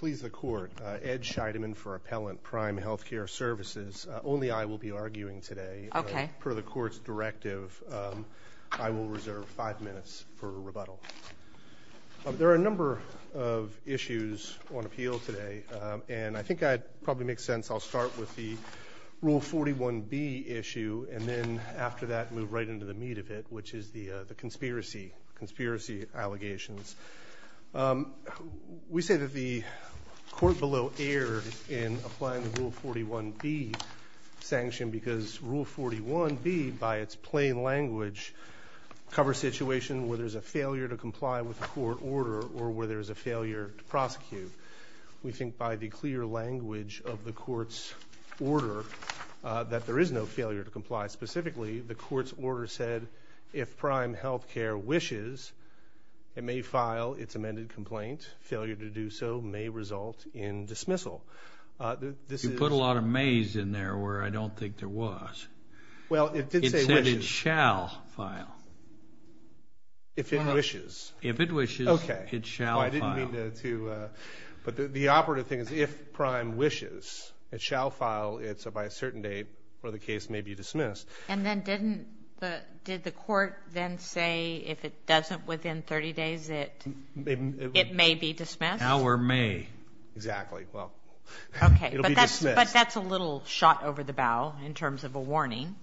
Please the court. Ed Scheidemann for Appellant, Prime Healthcare Services. Only I will be arguing today. Okay. Per the court's directive, I will reserve five minutes for rebuttal. There are a number of issues on appeal today, and I think it probably makes sense I'll start with the Rule 41B issue and then, after that, move right into the meat of it, which is the conspiracy allegations. We say that the court below erred in applying the Rule 41B sanction because Rule 41B, by its plain language, covers situations where there is a failure to comply with the court order or where there is a failure to prosecute. We think by the clear language of the court's order that there is no failure to comply. Specifically, the court's order said, if Prime Healthcare wishes, it may file its amended complaint. Failure to do so may result in dismissal. You put a lot of mays in there where I don't think there was. Well, it did say wishes. It said it shall file. If it wishes. If it wishes, it shall file. I didn't mean to, but the operative thing is if Prime wishes, it shall file. It's by a certain date where the case may be dismissed. And then didn't the court then say if it doesn't within 30 days, it may be dismissed? How or may? Exactly. Well, it will be dismissed. Okay, but that's a little shot over the bow in terms of a warning.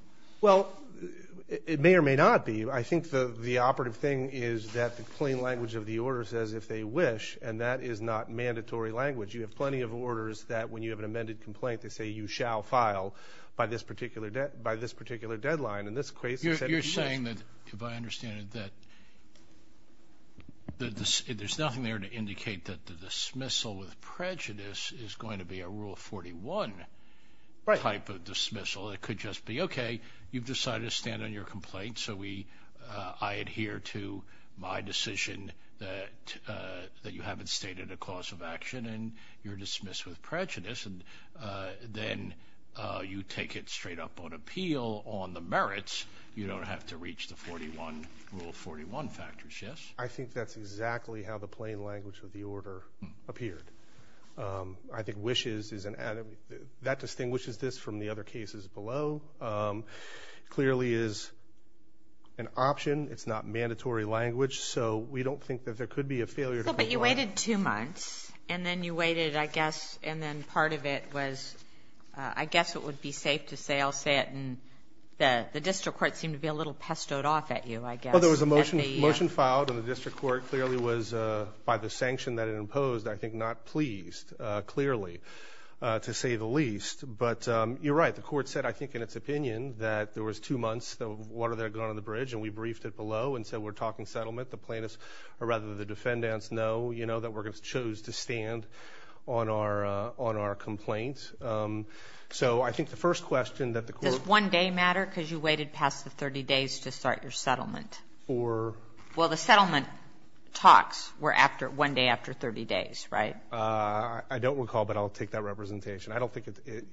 Well, it may or may not be. I think the operative thing is that the plain language of the order says if they wish, and that is not mandatory language. You have plenty of orders that when you have an amended complaint, they say you shall file by this particular deadline. In this case, it said it wished. You're saying that, if I understand it, that there's nothing there to indicate that the dismissal with prejudice is going to be a Rule 41 type of dismissal. It could just be, okay, you've decided to stand on your complaint, so I adhere to my decision that you haven't stated a cause of action, and you're dismissed with prejudice. And then you take it straight up on appeal on the merits. You don't have to reach the Rule 41 factors, yes? I think that's exactly how the plain language of the order appeared. I think wishes is an added. That distinguishes this from the other cases below. It clearly is an option. It's not mandatory language. So we don't think that there could be a failure to comply. You waited two months, and then you waited, I guess, and then part of it was, I guess it would be safe to say, I'll say it, and the district court seemed to be a little pestoed off at you, I guess. Well, there was a motion filed, and the district court clearly was, by the sanction that it imposed, I think not pleased, clearly, to say the least. But you're right. The court said, I think in its opinion, that there was two months of water that had gone on the bridge, and we briefed it below and said we're talking settlement. The plaintiffs, or rather the defendants, know that we chose to stand on our complaint. So I think the first question that the court ---- Does one day matter because you waited past the 30 days to start your settlement? Or ---- Well, the settlement talks were one day after 30 days, right? I don't recall, but I'll take that representation. I don't think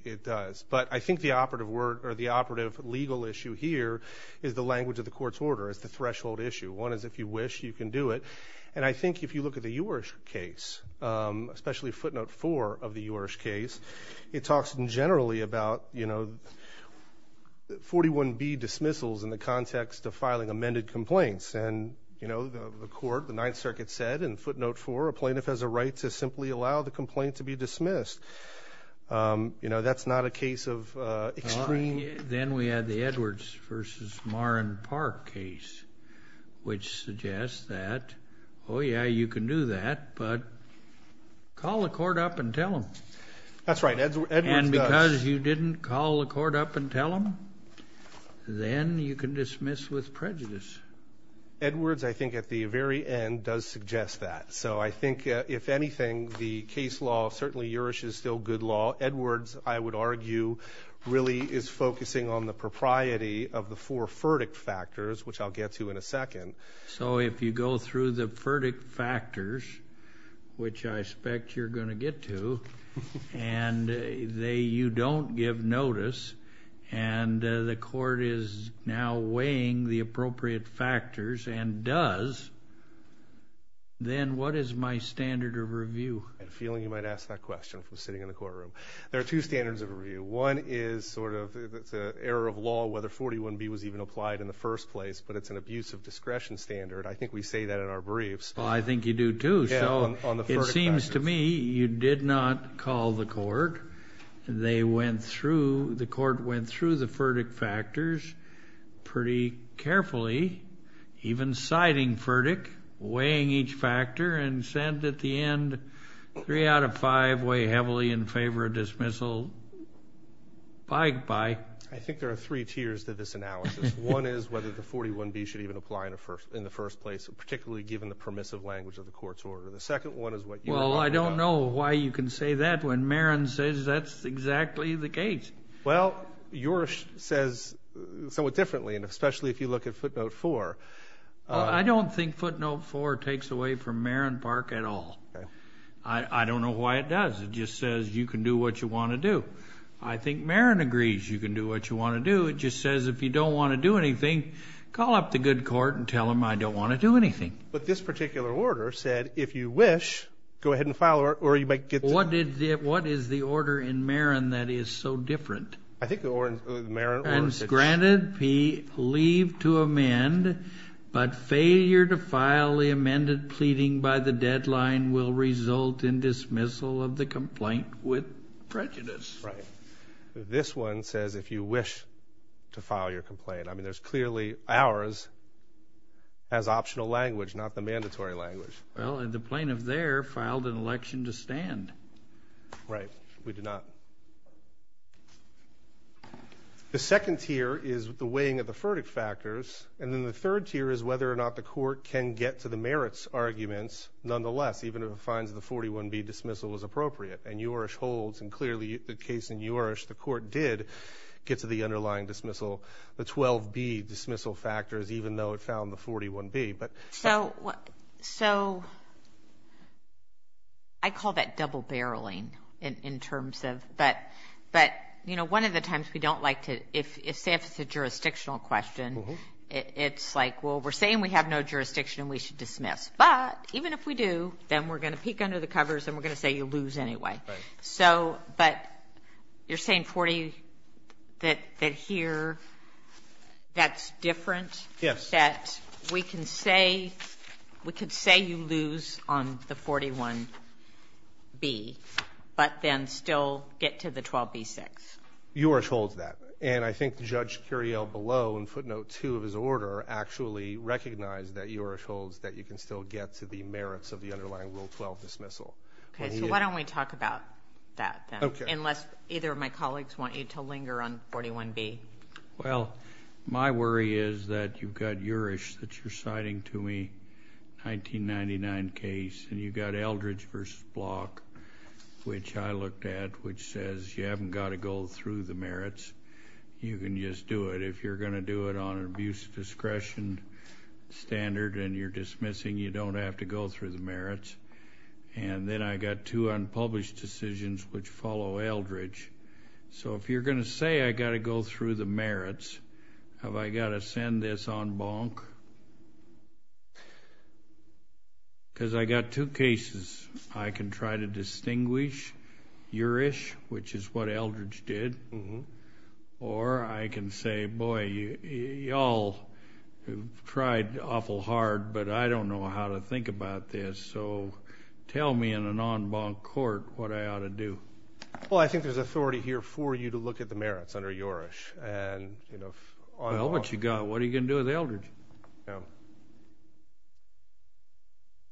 it does. But I think the operative legal issue here is the language of the court's order, is the threshold issue. One is if you wish, you can do it. And I think if you look at the U.R.S.H. case, especially Footnote 4 of the U.R.S.H. case, it talks generally about 41B dismissals in the context of filing amended complaints. And the court, the Ninth Circuit said in Footnote 4, a plaintiff has a right to simply allow the complaint to be dismissed. That's not a case of extreme ---- Then we had the Edwards v. Marrin Park case, which suggests that, oh, yeah, you can do that, but call the court up and tell them. That's right. Edwards does. And because you didn't call the court up and tell them, then you can dismiss with prejudice. Edwards, I think, at the very end does suggest that. So I think, if anything, the case law, certainly U.R.S.H. is still good law. Edwards, I would argue, really is focusing on the propriety of the four verdict factors, which I'll get to in a second. So if you go through the verdict factors, which I expect you're going to get to, and you don't give notice and the court is now weighing the appropriate factors and does, then what is my standard of review? I have a feeling you might ask that question from sitting in the courtroom. There are two standards of review. One is sort of it's an error of law whether 41B was even applied in the first place, but it's an abuse of discretion standard. I think we say that in our briefs. Well, I think you do too. So it seems to me you did not call the court. They went through, the court went through the verdict factors pretty carefully, even citing verdict, weighing each factor, and said at the end, three out of five weigh heavily in favor of dismissal. Bye-bye. I think there are three tiers to this analysis. One is whether the 41B should even apply in the first place, particularly given the permissive language of the court's order. The second one is what you were talking about. Well, I don't know why you can say that when Marin says that's exactly the case. Well, yours says somewhat differently, and especially if you look at footnote four. I don't think footnote four takes away from Marin Park at all. I don't know why it does. It just says you can do what you want to do. I think Marin agrees you can do what you want to do. It just says if you don't want to do anything, call up the good court and tell them I don't want to do anything. But this particular order said if you wish, go ahead and file, or you might get to. What is the order in Marin that is so different? I think the Marin order says. Granted, leave to amend, but failure to file the amended pleading by the deadline will result in dismissal of the complaint with prejudice. Right. This one says if you wish to file your complaint. I mean, there's clearly ours has optional language, not the mandatory language. Well, the plaintiff there filed an election to stand. Right. We did not. The second tier is the weighing of the verdict factors, and then the third tier is whether or not the court can get to the merits arguments nonetheless, even if it finds the 41B dismissal is appropriate. And yours holds, and clearly the case in yours, the court did get to the underlying dismissal, the 12B dismissal factors, even though it found the 41B. So I call that double-barreling in terms of. But, you know, one of the times we don't like to. If, say, if it's a jurisdictional question, it's like, well, we're saying we have no jurisdiction and we should dismiss. But even if we do, then we're going to peek under the covers and we're going to say you lose anyway. Right. So but you're saying 40, that here that's different. Yes. That we can say we could say you lose on the 41B, but then still get to the 12B6. Yours holds that. And I think Judge Curiel below in footnote 2 of his order actually recognized that yours holds that you can still get to the merits of the underlying rule 12 dismissal. Okay. So why don't we talk about that then? Okay. Unless either of my colleagues want you to linger on 41B. Well, my worry is that you've got yours that you're citing to me, 1999 case, and you've got Eldridge v. Block, which I looked at, which says you haven't got to go through the merits. You can just do it. If you're going to do it on an abuse of discretion standard and you're dismissing, you don't have to go through the merits. And then I've got two unpublished decisions which follow Eldridge. So if you're going to say I've got to go through the merits, have I got to send this on bonk? Because I've got two cases. I can try to distinguish your-ish, which is what Eldridge did, or I can say, boy, you all have tried awful hard, but I don't know how to think about this, so tell me in a non-bonk court what I ought to do. Well, I think there's authority here for you to look at the merits under your-ish. Well, what you got? What are you going to do with Eldridge?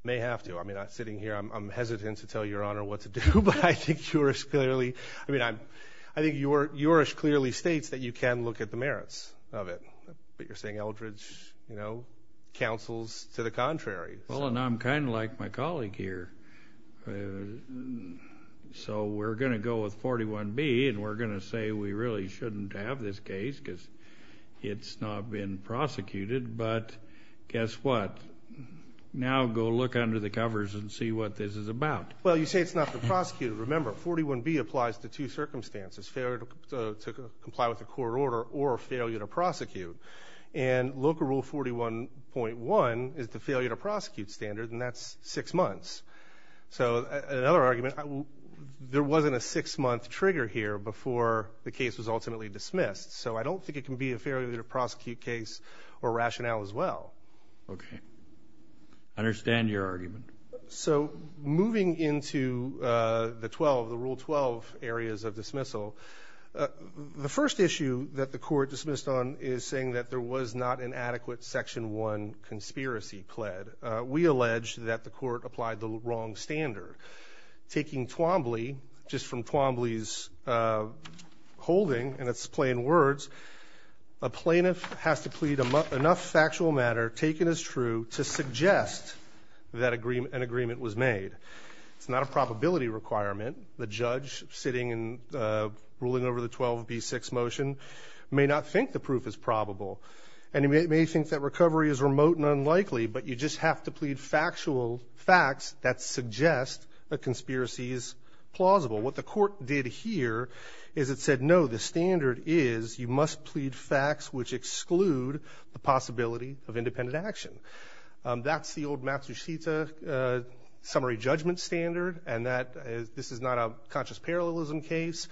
May have to. I mean, sitting here, I'm hesitant to tell Your Honor what to do, but I think your-ish clearly states that you can look at the merits of it. But you're saying Eldridge counsels to the contrary. Well, and I'm kind of like my colleague here. So we're going to go with 41B and we're going to say we really shouldn't have this case because it's not been prosecuted, but guess what? Now go look under the covers and see what this is about. Well, you say it's not been prosecuted. Remember, 41B applies to two circumstances, failure to comply with a court order or failure to prosecute. And local rule 41.1 is the failure to prosecute standard, and that's six months. So another argument, there wasn't a six-month trigger here before the case was ultimately dismissed, so I don't think it can be a failure to prosecute case or rationale as well. Okay. I understand your argument. So moving into the 12, the Rule 12 areas of dismissal, the first issue that the court dismissed on is saying that there was not an adequate Section 1 conspiracy pled. We allege that the court applied the wrong standard. Taking Twombly, just from Twombly's holding, and it's plain words, a plaintiff has to plead enough factual matter taken as true to suggest that an agreement was made. It's not a probability requirement. The judge sitting and ruling over the 12B6 motion may not think the proof is probable, and he may think that recovery is remote and unlikely, but you just have to plead factual facts that suggest a conspiracy is plausible. What the court did here is it said, no, the standard is you must plead facts which exclude the possibility of independent action. That's the old Matsushita summary judgment standard, and this is not a conscious parallelism case.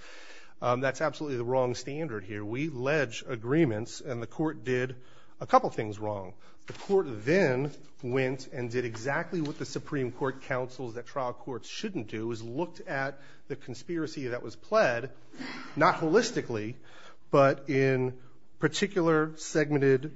That's absolutely the wrong standard here. We allege agreements, and the court did a couple things wrong. The court then went and did exactly what the Supreme Court counsels that trial courts shouldn't do, which was look at the conspiracy that was pled, not holistically, but in particular segmented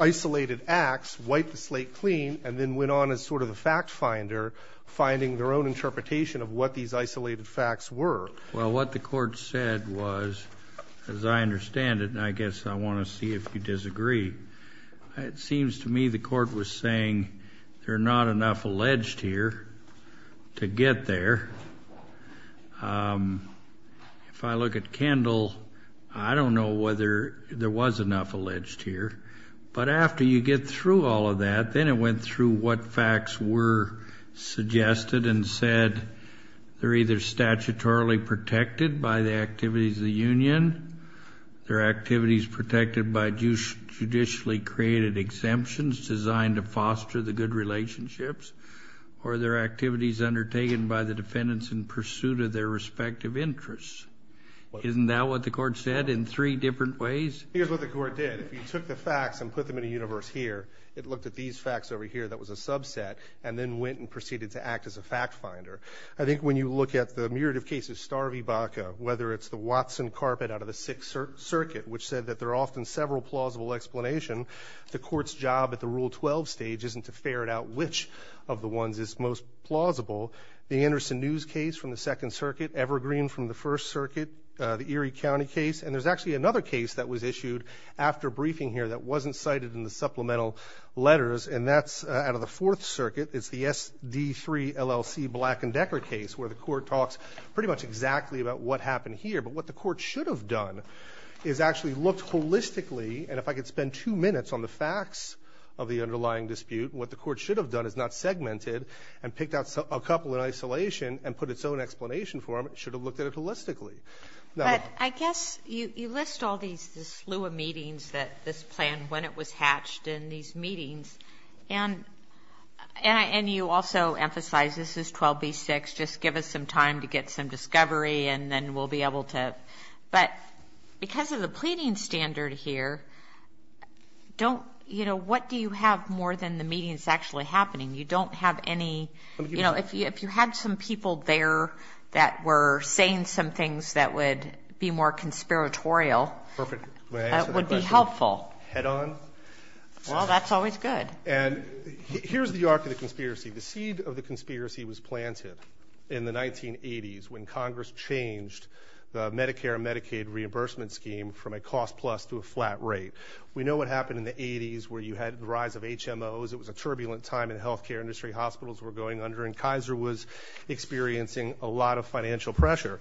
isolated acts, wipe the slate clean, and then went on as sort of the fact finder, finding their own interpretation of what these isolated facts were. Well, what the court said was, as I understand it, and I guess I want to see if you disagree, it seems to me the court was saying there are not enough alleged here to get there. If I look at Kendall, I don't know whether there was enough alleged here, but after you get through all of that, then it went through what facts were suggested and said they're either statutorily protected by the activities of the union, their activities protected by judicially created exemptions designed to foster the good relationships, or their activities undertaken by the defendants in pursuit of their respective interests. Isn't that what the court said in three different ways? Here's what the court did. If you took the facts and put them in a universe here, it looked at these facts over here that was a subset and then went and proceeded to act as a fact finder. I think when you look at the myriad of cases, Starvey-Baca, whether it's the Watson carpet out of the Sixth Circuit, which said that there are often several plausible explanations, the court's job at the Rule 12 stage isn't to ferret out which of the ones is most plausible. The Anderson News case from the Second Circuit, Evergreen from the First Circuit, the Erie County case, and there's actually another case that was issued after briefing here that wasn't cited in the supplemental letters, and that's out of the Fourth Circuit. It's the SD3 LLC Black and Decker case where the court talks pretty much exactly about what happened here. But what the court should have done is actually looked holistically, and if I could spend two minutes on the facts of the underlying dispute, what the court should have done is not segmented and picked out a couple in isolation and put its own explanation for them. It should have looked at it holistically. Sotomayor. But I guess you list all these, this slew of meetings that this plan, when it was hatched in these meetings, and you also emphasize this is 12B6, just give us some time to get some discovery, and then we'll be able to. But because of the pleading standard here, don't, you know, what do you have more than the meetings actually happening? You don't have any, you know, if you had some people there that were saying some things that would be more conspiratorial. Perfect. That would be helpful. Head on. Well, that's always good. And here's the arc of the conspiracy. The seed of the conspiracy was planted in the 1980s when Congress changed the Medicare and Medicaid reimbursement scheme from a cost plus to a flat rate. We know what happened in the 80s where you had the rise of HMOs. It was a turbulent time in health care industry. Hospitals were going under, and Kaiser was experiencing a lot of financial pressure.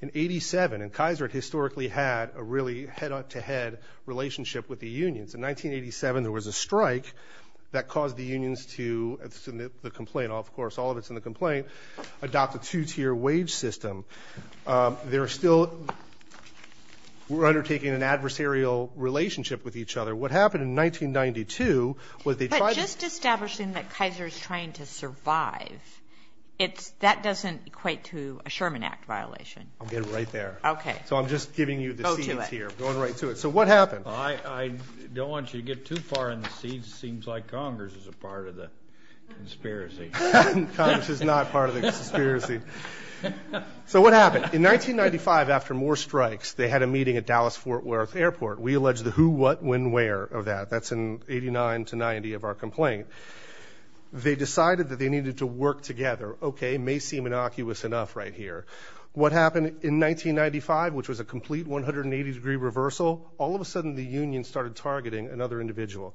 In 87, and Kaiser historically had a really head-on-to-head relationship with the unions. In 1987, there was a strike that caused the unions to submit the complaint. Of course, all of it's in the complaint. Adopt a two-tier wage system. They're still undertaking an adversarial relationship with each other. What happened in 1992 was they tried to. But just establishing that Kaiser is trying to survive, that doesn't equate to a Sherman Act violation. I'll get right there. Okay. So I'm just giving you the seeds here. Go to it. Going right to it. So what happened? I don't want you to get too far in the seeds. It seems like Congress is a part of the conspiracy. Congress is not part of the conspiracy. So what happened? In 1995, after more strikes, they had a meeting at Dallas-Fort Worth Airport. We allege the who, what, when, where of that. That's in 89 to 90 of our complaint. They decided that they needed to work together. Okay, may seem innocuous enough right here. What happened in 1995, which was a complete 180-degree reversal, all of a sudden the union started targeting another individual.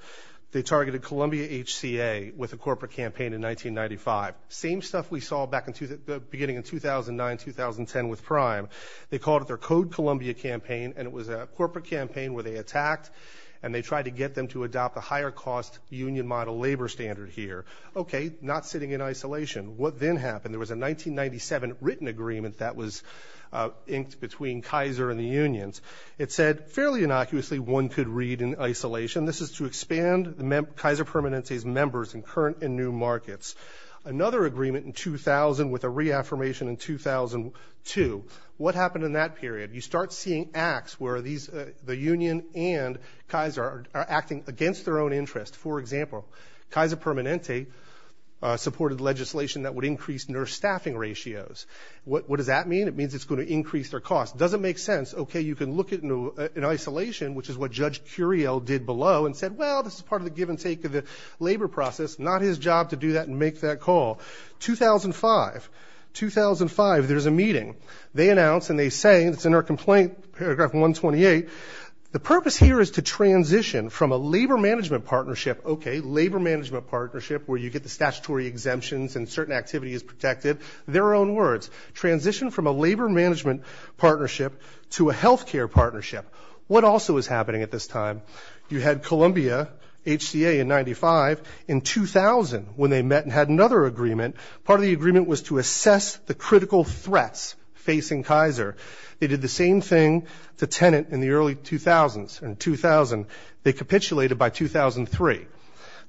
They targeted Columbia HCA with a corporate campaign in 1995. Same stuff we saw back in the beginning in 2009, 2010 with Prime. They called it their Code Columbia campaign, and it was a corporate campaign where they attacked, and they tried to get them to adopt a higher cost union model labor standard here. Okay, not sitting in isolation. What then happened? There was a 1997 written agreement that was inked between Kaiser and the unions. It said, fairly innocuously, one could read in isolation, this is to expand Kaiser Permanente's members in current and new markets. Another agreement in 2000 with a reaffirmation in 2002. What happened in that period? You start seeing acts where the union and Kaiser are acting against their own interest. For example, Kaiser Permanente supported legislation that would increase nurse staffing ratios. What does that mean? It means it's going to increase their cost. It doesn't make sense. Okay, you can look at it in isolation, which is what Judge Curiel did below, and said, well, this is part of the give and take of the labor process. It's not his job to do that and make that call. 2005. 2005, there's a meeting. They announce and they say, and it's in our complaint, paragraph 128, the purpose here is to transition from a labor management partnership, okay, labor management partnership where you get the statutory exemptions and certain activity is protected, their own words, transition from a labor management partnership to a health care partnership. What also is happening at this time? You had Columbia, HCA in 95. In 2000, when they met and had another agreement, part of the agreement was to assess the critical threats facing Kaiser. They did the same thing to Tenet in the early 2000s. In 2000, they capitulated by 2003.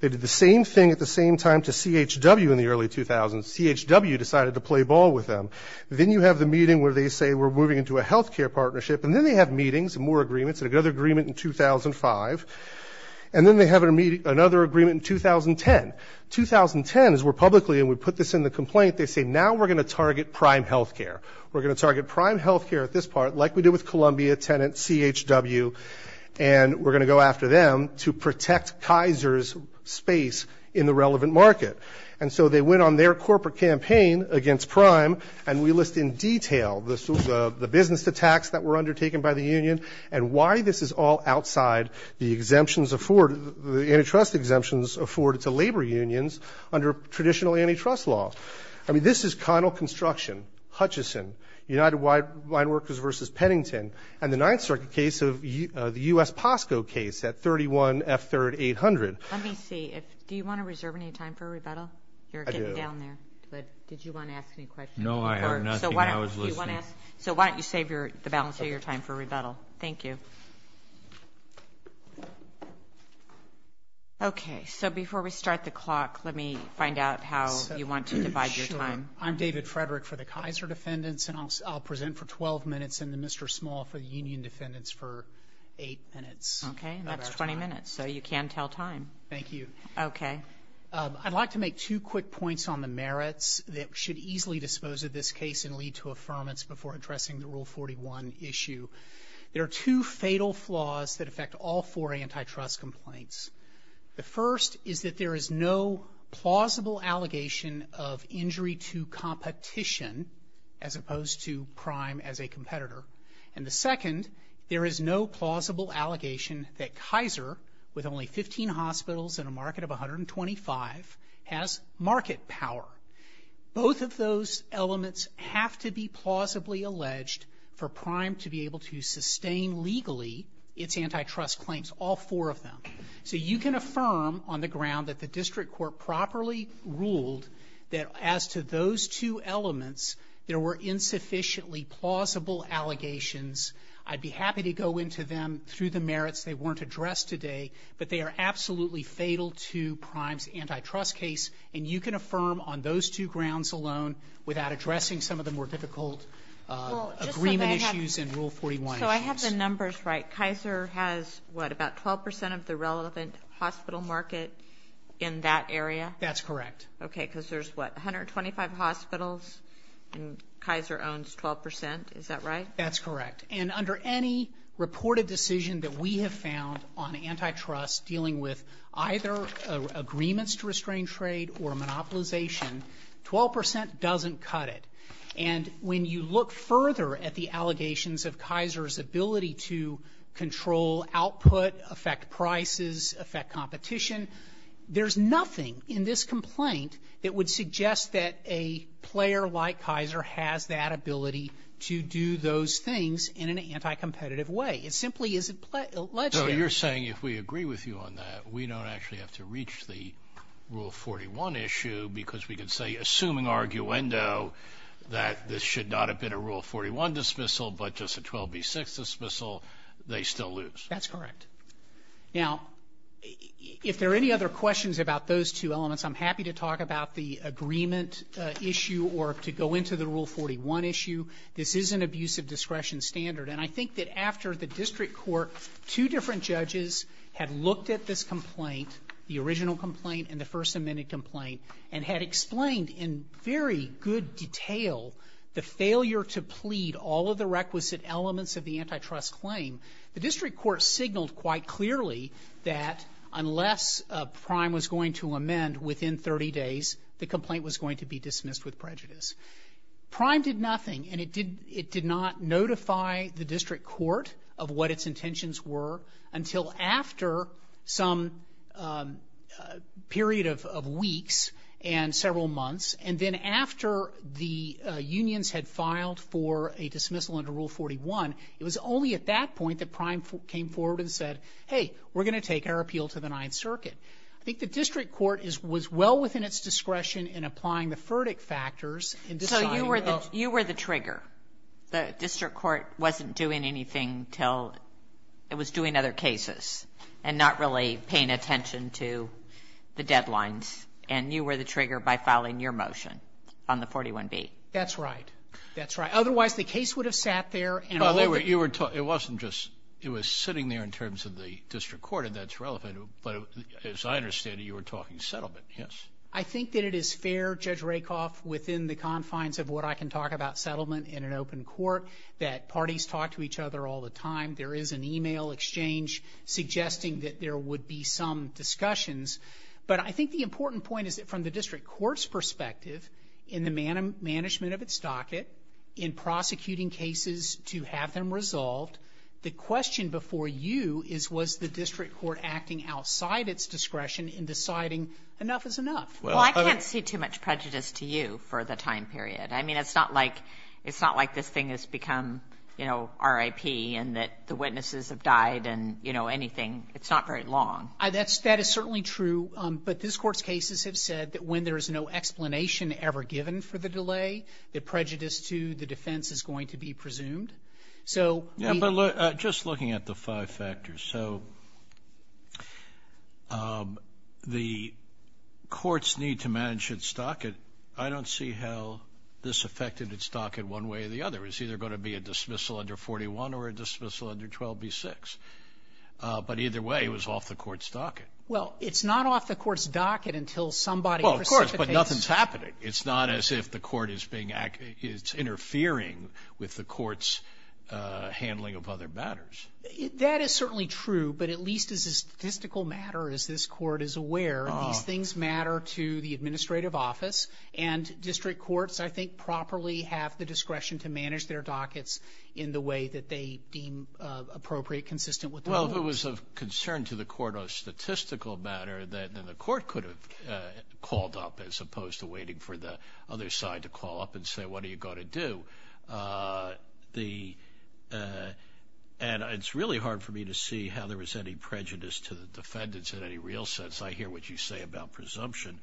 They did the same thing at the same time to CHW in the early 2000s. CHW decided to play ball with them. Then you have the meeting where they say we're moving into a health care partnership, and then they have meetings and more agreements and another agreement in 2005, and then they have another agreement in 2010. 2010 is where publicly, and we put this in the complaint, they say now we're going to target Prime Health Care. We're going to target Prime Health Care at this part, like we did with Columbia, Tenet, CHW, and we're going to go after them to protect Kaiser's space in the relevant market. And so they went on their corporate campaign against Prime, and we list in detail the business attacks that were undertaken by the union and why this is all outside the exemptions afforded, the antitrust exemptions afforded to labor unions under traditional antitrust law. I mean, this is Connell Construction, Hutchison, United Wine Workers v. Pennington, and the Ninth Circuit case of the U.S. POSCO case at 31 F3rd 800. Let me see. Do you want to reserve any time for a rebuttal? I do. Did you want to ask any questions? No, I have nothing. I was listening. So why don't you save the balance of your time for a rebuttal? Thank you. Okay, so before we start the clock, let me find out how you want to divide your time. I'm David Frederick for the Kaiser defendants, and I'll present for 12 minutes and the Mr. Small for the union defendants for 8 minutes. Okay, and that's 20 minutes, so you can tell time. Thank you. Okay. I'd like to make two quick points on the merits that should easily dispose of this case and lead to affirmance before addressing the Rule 41 issue. There are two fatal flaws that affect all four antitrust complaints. The first is that there is no plausible allegation of injury to competition as opposed to crime as a competitor. And the second, there is no plausible allegation that Kaiser, with only 15 hospitals and a market of 125, has market power. Both of those elements have to be plausibly alleged for prime to be able to sustain legally its antitrust claims, all four of them. So you can affirm on the ground that the district court properly ruled that as to those two elements, there were insufficiently plausible allegations. I'd be happy to go into them through the merits. They weren't addressed today, but they are absolutely fatal to Prime's antitrust case, and you can affirm on those two grounds alone without addressing some of the more difficult agreement issues and Rule 41 issues. So I have the numbers right. Kaiser has, what, about 12 percent of the relevant hospital market in that area? That's correct. Okay, because there's, what, 125 hospitals and Kaiser owns 12 percent. Is that right? That's correct. And under any reported decision that we have found on antitrust dealing with either agreements to restrain trade or monopolization, 12 percent doesn't cut it. And when you look further at the allegations of Kaiser's ability to control output, affect prices, affect competition, there's nothing in this complaint that would suggest that a player like Kaiser has that ability to do those things in an anticompetitive way. It simply isn't alleged there. So you're saying if we agree with you on that, we don't actually have to reach the Rule 41 issue because we can say, assuming arguendo, that this should not have been a Rule 41 dismissal but just a 12B6 dismissal, they still lose. That's correct. Now, if there are any other questions about those two elements, I'm happy to talk about the agreement issue or to go into the Rule 41 issue. This is an abusive discretion standard. And I think that after the district court, two different judges had looked at this complaint, the original complaint and the First Amendment complaint, and had explained in very good detail the failure to plead all of the requisite elements of the antitrust claim, the complaint was going to be dismissed with prejudice. Prime did nothing, and it did not notify the district court of what its intentions were until after some period of weeks and several months. And then after the unions had filed for a dismissal under Rule 41, it was only at that point that Prime came forward and said, hey, we're going to take our appeal to the Ninth Circuit. I think the district court was well within its discretion in applying the verdict factors and deciding. So you were the trigger. The district court wasn't doing anything until it was doing other cases and not really paying attention to the deadlines, and you were the trigger by filing your motion on the 41B. That's right. That's right. Otherwise, the case would have sat there and all of it. It wasn't just – it was sitting there in terms of the district court, and that's relevant. But as I understand it, you were talking settlement, yes? I think that it is fair, Judge Rakoff, within the confines of what I can talk about settlement in an open court, that parties talk to each other all the time. There is an email exchange suggesting that there would be some discussions. But I think the important point is that from the district court's perspective, in the management of its docket, in prosecuting cases to have them resolved, the question before you is, was the district court acting outside its discretion in deciding enough is enough? Well, I can't see too much prejudice to you for the time period. I mean, it's not like this thing has become, you know, RIP and that the witnesses have died and, you know, anything. It's not very long. That is certainly true, but this court's cases have said that when there is no explanation ever given for the delay, the prejudice to the defense is going to be presumed. Yeah, but just looking at the five factors, so the courts need to manage its docket. I don't see how this affected its docket one way or the other. It's either going to be a dismissal under 41 or a dismissal under 12b-6. But either way, it was off the court's docket. Well, it's not off the court's docket until somebody precipitates. Well, of course, but nothing is happening. Right. It's not as if the court is being act as interfering with the court's handling of other matters. That is certainly true, but at least as a statistical matter, as this Court is aware, these things matter to the administrative office. And district courts, I think, properly have the discretion to manage their dockets in the way that they deem appropriate, consistent with the rules. Well, if it was of concern to the court on a statistical matter, then the court could have called up as opposed to waiting for the other side to call up and say, what are you going to do? And it's really hard for me to see how there was any prejudice to the defendants in any real sense. I hear what you say about presumption.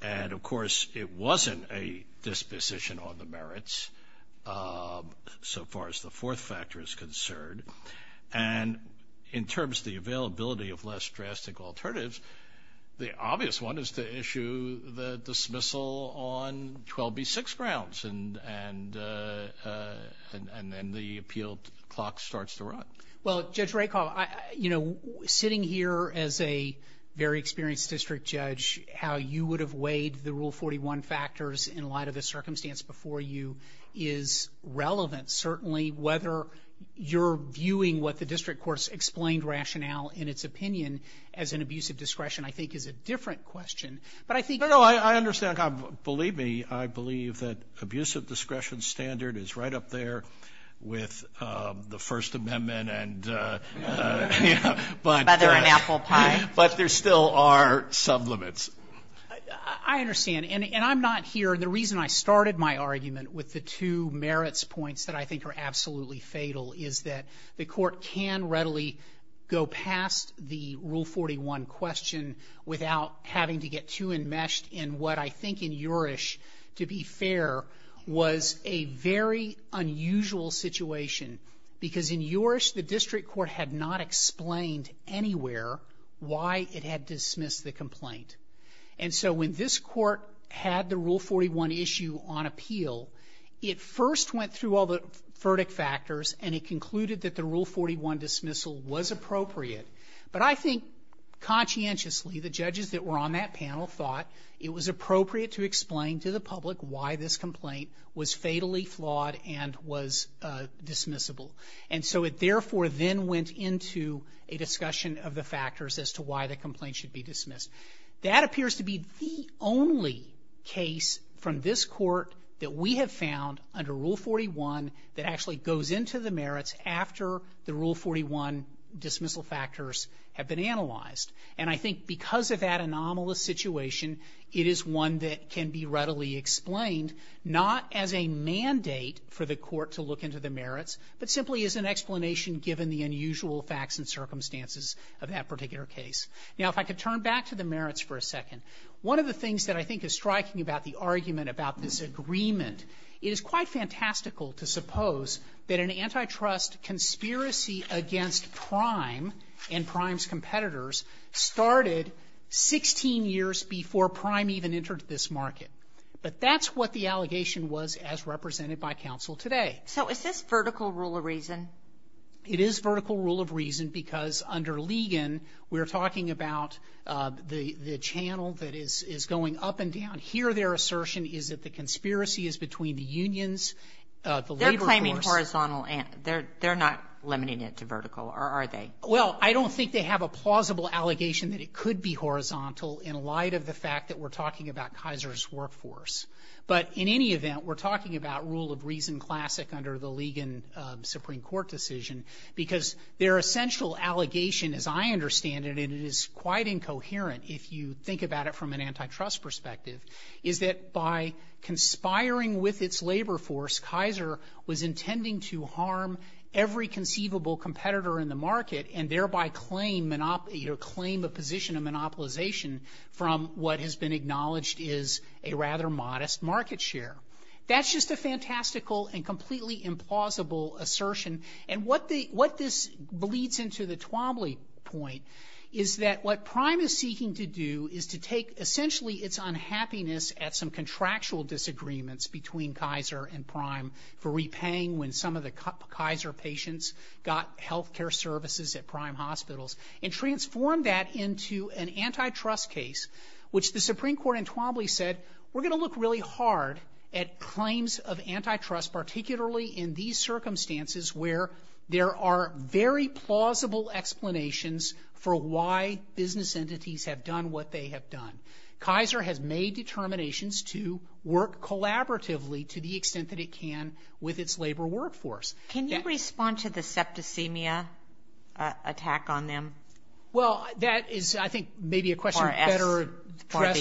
And, of course, it wasn't a disposition on the merits, so far as the fourth factor is concerned. And in terms of the availability of less drastic alternatives, the obvious one is to issue the dismissal on 12B6 grounds and then the appeal clock starts to run. Well, Judge Rakoff, you know, sitting here as a very experienced district judge, how you would have weighed the Rule 41 factors in light of the circumstance before you is relevant, certainly. Whether you're viewing what the district court's explained rationale in its opinion as an abuse of discretion, I think, is a different question. But I think you're right. No, no, I understand. Believe me, I believe that abuse of discretion standard is right up there with the First Amendment and, you know, but there still are some limits. I understand. And I'm not here. The reason I started my argument with the two merits points that I think are absolutely fatal is that the court can readily go past the Rule 41 question without having to get too enmeshed in what I think in Yorish, to be fair, was a very unusual situation because in Yorish, the district court had not explained anywhere why it had dismissed the complaint. And so when this court had the Rule 41 issue on appeal, it first went through all the verdict factors and it concluded that the Rule 41 dismissal was appropriate. But I think conscientiously the judges that were on that panel thought it was appropriate to explain to the public why this complaint was fatally flawed and was dismissible. And so it therefore then went into a discussion of the factors as to why the That appears to be the only case from this court that we have found under Rule 41 that actually goes into the merits after the Rule 41 dismissal factors have been analyzed. And I think because of that anomalous situation, it is one that can be readily explained not as a mandate for the court to look into the merits, but simply as an explanation given the unusual facts and circumstances of that particular case. Now, if I could turn back to the merits for a second. One of the things that I think is striking about the argument about this agreement, it is quite fantastical to suppose that an antitrust conspiracy against Prime and Prime's competitors started 16 years before Prime even entered this market. But that's what the allegation was as represented by counsel today. So is this vertical rule of reason? It is vertical rule of reason because under Ligon, we're talking about the channel that is going up and down here. Their assertion is that the conspiracy is between the unions, the labor force. They're claiming horizontal. They're not limiting it to vertical, are they? Well, I don't think they have a plausible allegation that it could be horizontal in light of the fact that we're talking about Kaiser's workforce. But in any event, we're talking about rule of reason classic under the Ligon Supreme Court decision because their essential allegation, as I understand it, and it is quite incoherent if you think about it from an antitrust perspective, is that by conspiring with its labor force, Kaiser was intending to harm every conceivable competitor in the market and thereby claim a position of monopolization from what has been acknowledged is a rather modest market share. That's just a fantastical and completely implausible assertion. And what this bleeds into the Twombly point is that what Prime is seeking to do is to take essentially its unhappiness at some contractual disagreements between Kaiser and Prime for repaying when some of the Kaiser patients got health care services at Prime Hospitals and transform that into an antitrust case, which the Supreme Court in Twombly said, we're going to look really hard at claims of antitrust, particularly in these circumstances where there are very plausible explanations for why business entities have done what they have done. Kaiser has made determinations to work collaboratively to the extent that it can with its labor workforce. Can you respond to the septicemia attack on them? Well, that is, I think, maybe a question better addressed for the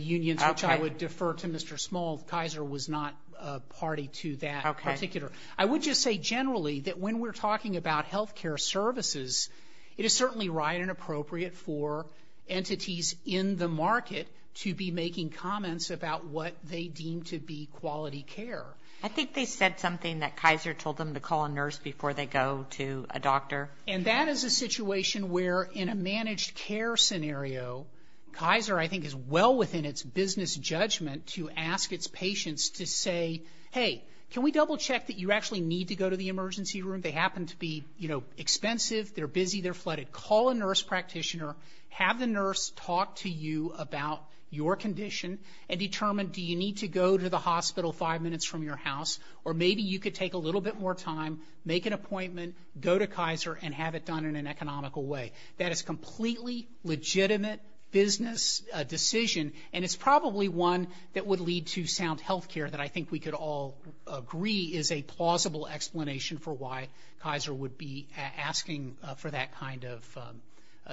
unions, which I would defer to Mr. Small. Kaiser was not a party to that particular. I would just say generally that when we're talking about health care services, it is certainly right and appropriate for entities in the market to be making comments about what they deem to be quality care. I think they said something that Kaiser told them to call a nurse before they go to a doctor. And that is a situation where in a managed care scenario, Kaiser, I think, is well within its business judgment to ask its patients to say, hey, can we double check that you actually need to go to the emergency room? They happen to be, you know, expensive, they're busy, they're flooded. Call a nurse practitioner, have the nurse talk to you about your condition and determine do you need to go to the hospital five minutes from your house or maybe you could take a little bit more time, make an appointment, go to Kaiser and have it done in an economical way. That is a completely legitimate business decision and it's probably one that would lead to sound health care that I think we could all agree is a plausible explanation for why Kaiser would be asking for that kind of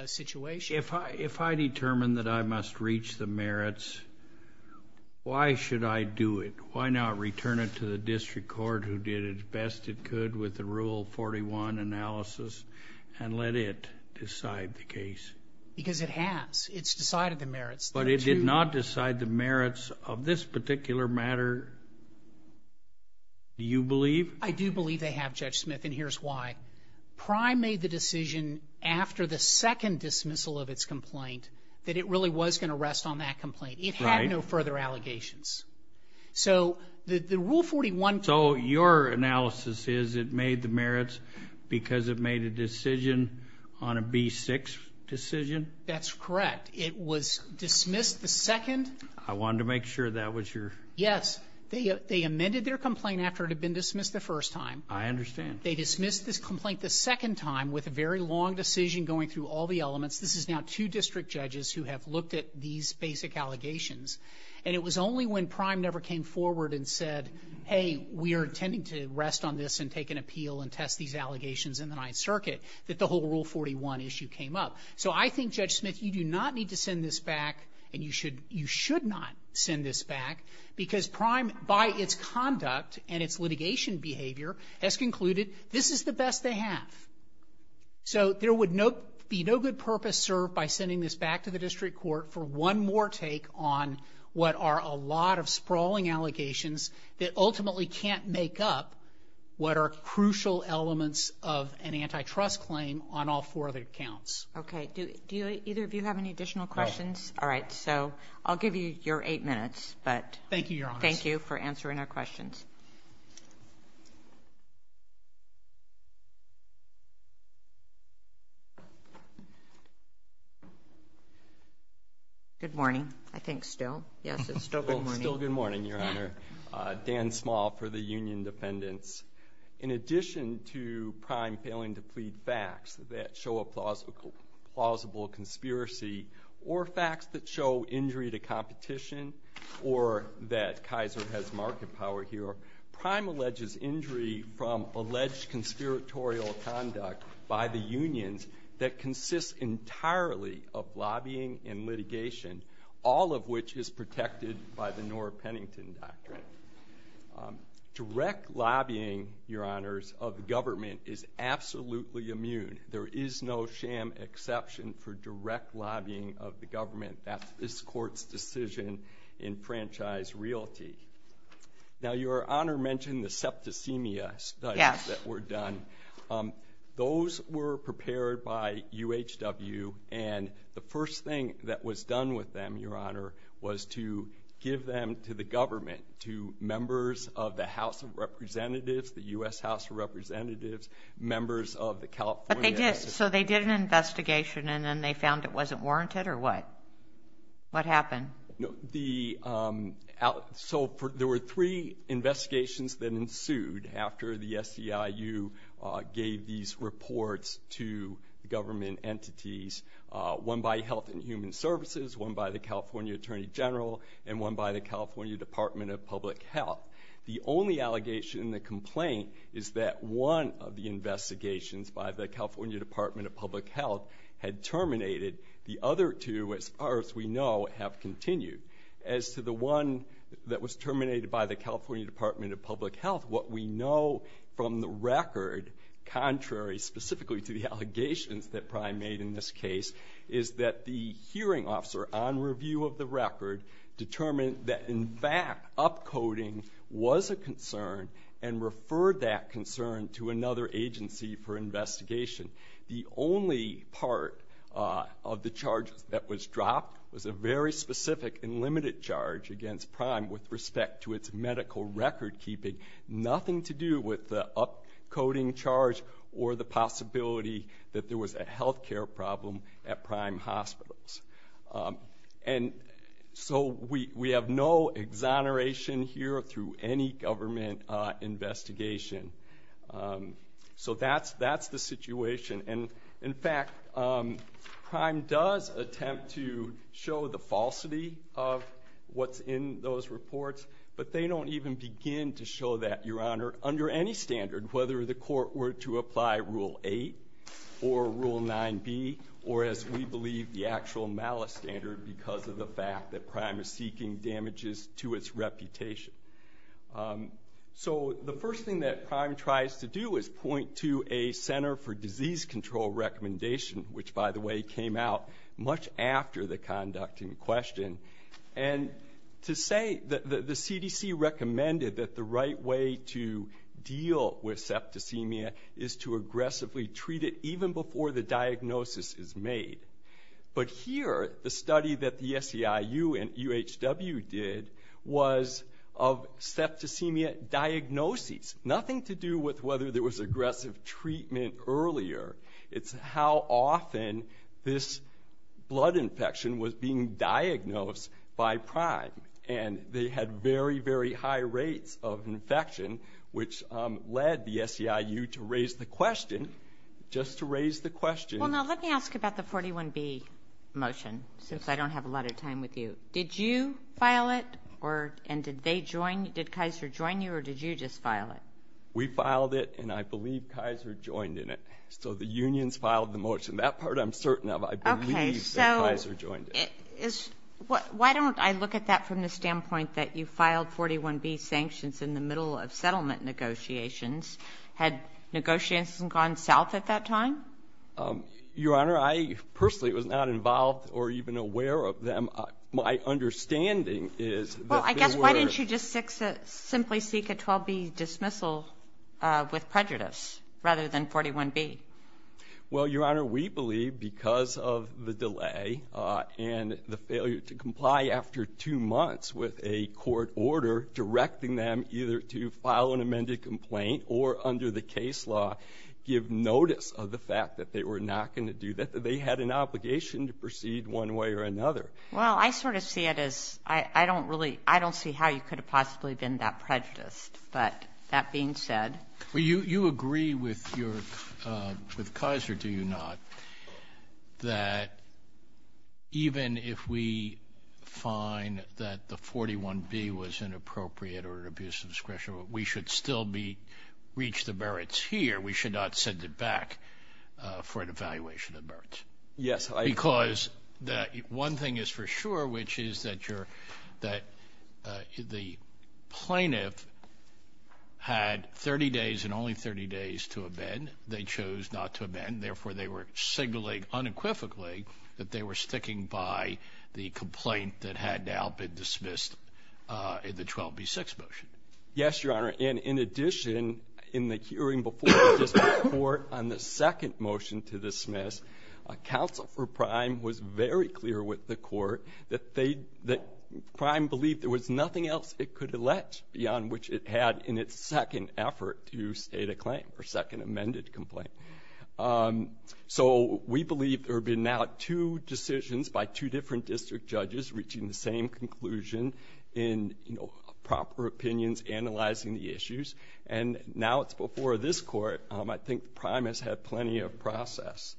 situation. Judge, if I determine that I must reach the merits, why should I do it? Why not return it to the district court who did its best it could with the Rule 41 analysis and let it decide the case? Because it has. It's decided the merits. But it did not decide the merits of this particular matter, do you believe? I do believe they have, Judge Smith, and here's why. Prime made the decision after the second dismissal of its complaint that it really was going to rest on that complaint. It had no further allegations. So the Rule 41... So your analysis is it made the merits because it made a decision on a B6 decision? That's correct. It was dismissed the second... I wanted to make sure that was your... Yes. They amended their complaint after it had been dismissed the first time. I understand. They dismissed this complaint the second time with a very long decision going through all the elements. This is now two district judges who have looked at these basic allegations. And it was only when Prime never came forward and said, hey, we are intending to rest on this and take an appeal and test these allegations in the Ninth Circuit that the whole Rule 41 issue came up. So I think, Judge Smith, you do not need to send this back and you should not send this back because Prime, by its conduct and its litigation behavior, has concluded this is the best they have. So there would be no good purpose served by sending this back to the district court for one more take on what are a lot of sprawling allegations that ultimately can't make up what are crucial elements of an antitrust claim on all four of their counts. Okay. Do either of you have any additional questions? No. All right. So I'll give you your eight minutes. Thank you, Your Honor. Thank you for answering our questions. Good morning. I think still. Yes, it's still good morning. Still good morning, Your Honor. Dan Small for the Union Dependents. In addition to Prime failing to plead facts that show a plausible conspiracy or facts that show injury to competition or that Kaiser has market power here, Prime alleges injury from alleged conspiratorial conduct by the unions that consists entirely of lobbying and litigation, all of which is protected by the Nora Pennington Doctrine. Direct lobbying, Your Honors, of the government is absolutely immune. There is no sham exception for direct lobbying of the government. That's this court's decision in franchise realty. Now, Your Honor mentioned the septicemia studies that were done. Those were prepared by UHW, and the first thing that was done with them, Your Honor, was to give them to the government, to members of the House of Representatives, the U.S. House of Representatives, members of the California- But they did. So they did an investigation, and then they found it wasn't warranted, or what? What happened? So there were three investigations that ensued after the SEIU gave these reports to government entities, one by Health and Human Services, one by the California Attorney General, and one by the California Department of Public Health. The only allegation in the complaint is that one of the investigations by the California Department of Public Health had terminated. The other two, as far as we know, have continued. As to the one that was terminated by the California Department of Public Health, what we know from the record, contrary specifically to the allegations that Prime made in this case, is that the hearing officer on review of the record determined that, in fact, upcoding was a concern and referred that concern to another agency for investigation. The only part of the charge that was dropped was a very specific and limited charge against Prime with respect to its medical recordkeeping, nothing to do with the upcoding charge or the possibility that there was a health care problem at Prime Hospitals. And so we have no exoneration here through any government investigation. So that's the situation. And, in fact, Prime does attempt to show the falsity of what's in those reports, but they don't even begin to show that, Your Honor, under any standard, whether the court were to apply Rule 8 or Rule 9b or, as we believe, the actual malice standard because of the fact that Prime is seeking damages to its reputation. So the first thing that Prime tries to do is point to a Center for Disease Control recommendation, which, by the way, came out much after the conduct in question. And to say that the CDC recommended that the right way to deal with septicemia is to aggressively treat it even before the diagnosis is made. But here, the study that the SEIU and UHW did was of septicemia diagnoses, nothing to do with whether there was aggressive treatment earlier. It's how often this blood infection was being diagnosed by Prime. And they had very, very high rates of infection, which led the SEIU to raise the question, just to raise the question. Well, now, let me ask about the 41b motion, since I don't have a lot of time with you. Did you file it, and did Kaiser join you, or did you just file it? We filed it, and I believe Kaiser joined in it. So the unions filed the motion. That part I'm certain of. I believe that Kaiser joined it. Why don't I look at that from the standpoint that you filed 41b sanctions in the middle of settlement negotiations? Had negotiations gone south at that time? Your Honor, I personally was not involved or even aware of them. My understanding is that there were – Well, I guess why didn't you just simply seek a 12b dismissal with prejudice rather than 41b? Well, Your Honor, we believe because of the delay and the failure to comply after two months with a court order directing them either to file an amended complaint or under the case law give notice of the fact that they were not going to do that, that they had an obligation to proceed one way or another. Well, I sort of see it as – I don't really – I don't see how you could have possibly been that prejudiced. But that being said – Well, you agree with Kaiser, do you not, that even if we find that the 41b was inappropriate or an abuse of discretion, we should still reach the merits here. We should not send it back for an evaluation of merits. Yes, I – Because one thing is for sure, which is that the plaintiff had 30 days and only 30 days to amend. They chose not to amend. Therefore, they were signaling unequivocally that they were sticking by the complaint that had now been dismissed in the 12b-6 motion. Yes, Your Honor. And in addition, in the hearing before the district court on the second motion to dismiss, counsel for Prime was very clear with the court that they – that Prime believed there was nothing else it could elect beyond which it had in its second effort to state a claim or second amended complaint. So we believe there have been now two decisions by two different district judges reaching the same conclusion in proper opinions analyzing the issues. And now it's before this court. I think Prime has had plenty of process.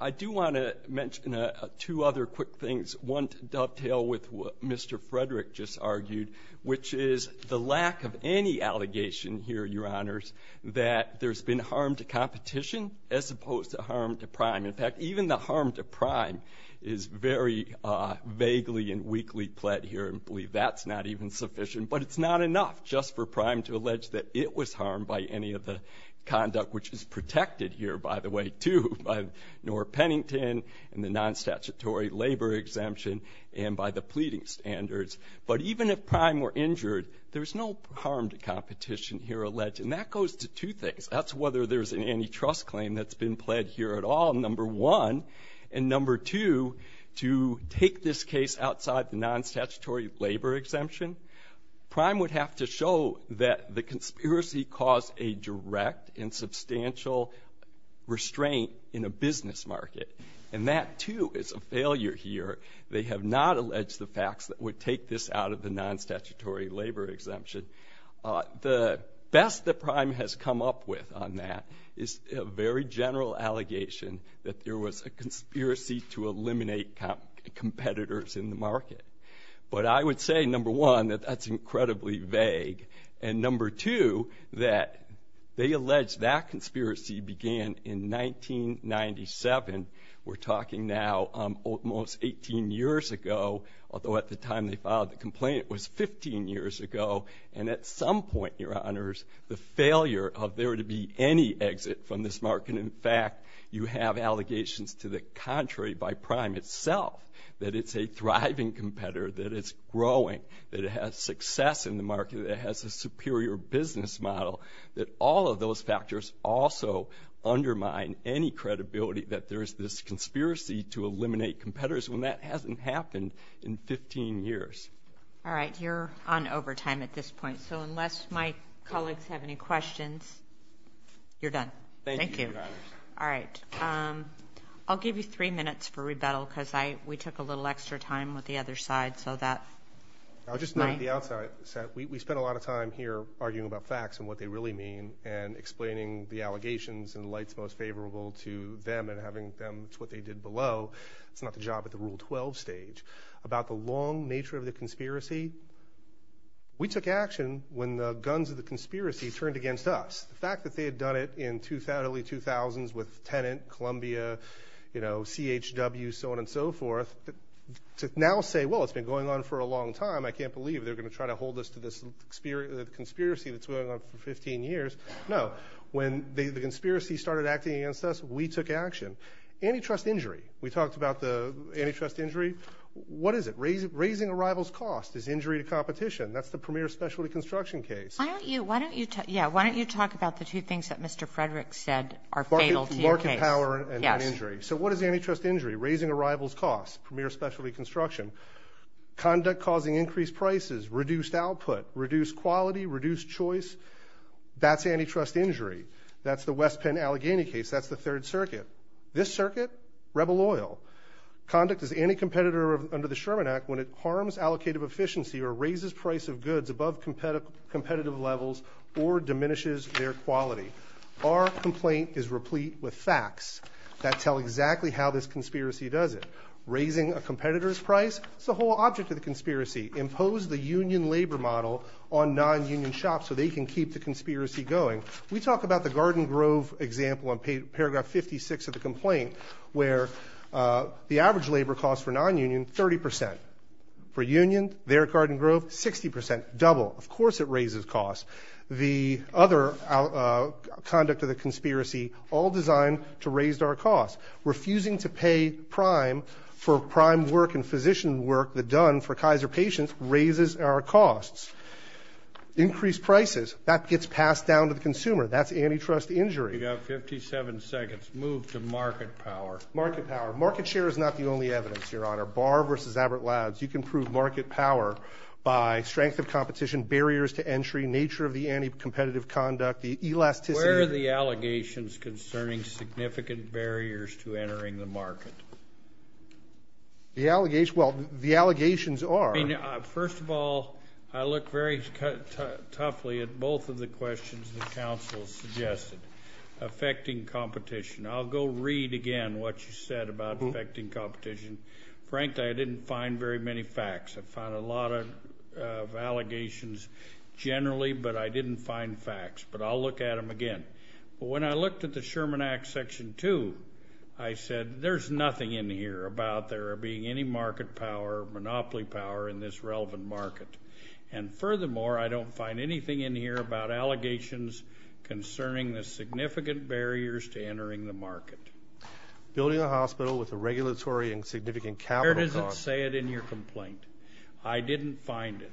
I do want to mention two other quick things, one to dovetail with what Mr. Frederick just argued, which is the lack of any allegation here, Your Honors, that there's been harm to competition as opposed to harm to Prime. In fact, even the harm to Prime is very vaguely and weakly pled here and believe that's not even sufficient. But it's not enough just for Prime to allege that it was harmed by any of the conduct, which is protected here, by the way, too, by Norr Pennington and the non-statutory labor exemption and by the pleading standards. But even if Prime were injured, there's no harm to competition here alleged. And that goes to two things. That's whether there's an antitrust claim that's been pled here at all, number one. And number two, to take this case outside the non-statutory labor exemption, Prime would have to show that the conspiracy caused a direct and substantial restraint in a business market. And that, too, is a failure here. They have not alleged the facts that would take this out of the non-statutory labor exemption. The best that Prime has come up with on that is a very general allegation that there was a conspiracy to eliminate competitors in the market. But I would say, number one, that that's incredibly vague. And number two, that they allege that conspiracy began in 1997. We're talking now almost 18 years ago, although at the time they filed the complaint it was 15 years ago. And at some point, Your Honors, the failure of there to be any exit from this market, and, in fact, you have allegations to the contrary by Prime itself, that it's a thriving competitor, that it's growing, that it has success in the market, that it has a superior business model, that all of those factors also undermine any credibility that there is this conspiracy to eliminate competitors when that hasn't happened in 15 years. All right, you're on overtime at this point. So unless my colleagues have any questions, you're done. Thank you, Your Honors. All right. I'll give you three minutes for rebuttal because we took a little extra time with the other side. I'll just note the outside. We spent a lot of time here arguing about facts and what they really mean and explaining the allegations and the lights most favorable to them and having them do what they did below. It's not the job at the Rule 12 stage. About the long nature of the conspiracy, we took action when the guns of the conspiracy turned against us. The fact that they had done it in the early 2000s with Tenet, Columbia, CHW, so on and so forth, to now say, well, it's been going on for a long time, I can't believe they're going to try to hold us to this conspiracy that's going on for 15 years. No. When the conspiracy started acting against us, we took action. Antitrust injury, we talked about the antitrust injury. What is it? Raising a rival's cost is injury to competition. That's the premier specialty construction case. Why don't you talk about the two things that Mr. Frederick said are fatal to your case? Market power and injury. Yes. So what is antitrust injury? Raising a rival's cost, premier specialty construction. Conduct causing increased prices, reduced output, reduced quality, reduced choice. That's antitrust injury. That's the West Penn Allegheny case. That's the Third Circuit. This circuit, rebel loyal. Conduct is anti-competitor under the Sherman Act when it harms allocative efficiency or raises price of goods above competitive levels or diminishes their quality. Our complaint is replete with facts that tell exactly how this conspiracy does it. Raising a competitor's price is the whole object of the conspiracy. Impose the union labor model on non-union shops so they can keep the conspiracy going. We talk about the Garden Grove example in paragraph 56 of the complaint where the average labor cost for non-union, 30%. For union, their Garden Grove, 60%, double. Of course it raises costs. The other conduct of the conspiracy, all designed to raise our costs. Refusing to pay prime for prime work and physician work that's done for Kaiser patients raises our costs. Increased prices, that gets passed down to the consumer. That's antitrust injury. You've got 57 seconds. Move to market power. Market power. Market share is not the only evidence, Your Honor. Barr versus Abbott Labs, you can prove market power by strength of competition, barriers to entry, nature of the anti-competitive conduct, the elasticity. Where are the allegations concerning significant barriers to entering the market? The allegations, well, the allegations are. First of all, I look very toughly at both of the questions the counsel suggested affecting competition. I'll go read again what you said about affecting competition. Frankly, I didn't find very many facts. I found a lot of allegations generally, but I didn't find facts. But I'll look at them again. When I looked at the Sherman Act Section 2, I said there's nothing in here about there being any market power, monopoly power in this relevant market. And furthermore, I don't find anything in here about allegations concerning the significant barriers to entering the market. Building a hospital with a regulatory and significant capital cost. Where does it say it in your complaint? I didn't find it.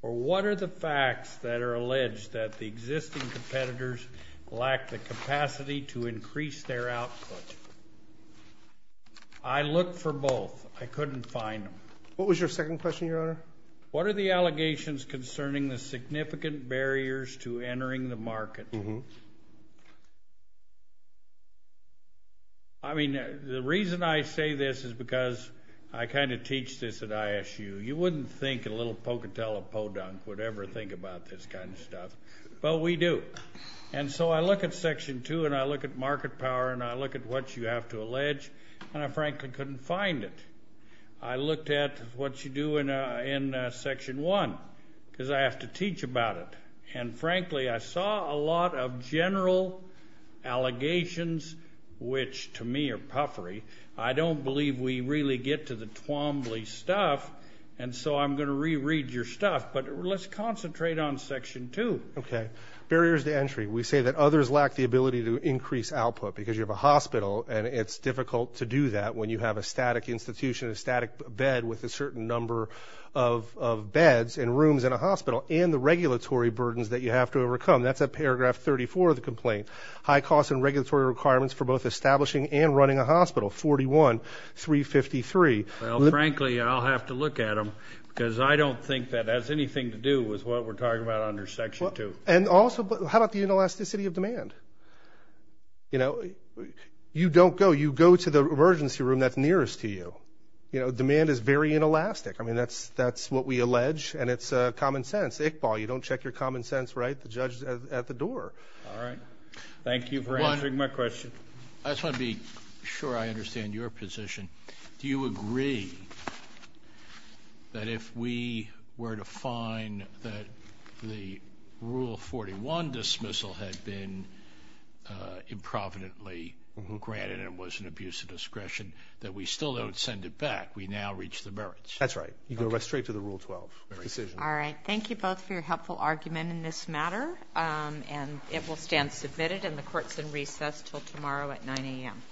Or what are the facts that are alleged that the existing competitors lack the capacity to increase their output? I looked for both. I couldn't find them. What was your second question, Your Honor? What are the allegations concerning the significant barriers to entering the market? I mean, the reason I say this is because I kind of teach this at ISU. You wouldn't think a little Pocatello podunk would ever think about this kind of stuff, but we do. And so I look at Section 2, and I look at market power, and I look at what you have to allege, and I frankly couldn't find it. I looked at what you do in Section 1 because I have to teach about it. And frankly, I saw a lot of general allegations, which to me are puffery. I don't believe we really get to the Twombly stuff, and so I'm going to reread your stuff. But let's concentrate on Section 2. Okay. Barriers to entry. We say that others lack the ability to increase output because you have a hospital, and it's difficult to do that when you have a static institution, a static bed with a certain number of beds and rooms in a hospital, and the regulatory burdens that you have to overcome. That's at paragraph 34 of the complaint. High cost and regulatory requirements for both establishing and running a hospital, 41, 353. Well, frankly, I'll have to look at them because I don't think that has anything to do with what we're talking about under Section 2. And also, how about the inelasticity of demand? You know, you don't go. You go to the emergency room that's nearest to you. You know, demand is very inelastic. I mean, that's what we allege, and it's common sense. Iqbal, you don't check your common sense right at the door. All right. Thank you for answering my question. I just want to be sure I understand your position. Do you agree that if we were to find that the Rule 41 dismissal had been improvidently granted and it was an abuse of discretion, that we still don't send it back, we now reach the merits? That's right. You go straight to the Rule 12 decision. All right. Thank you both for your helpful argument in this matter, and it will stand submitted in the courts in recess until tomorrow at 9 a.m.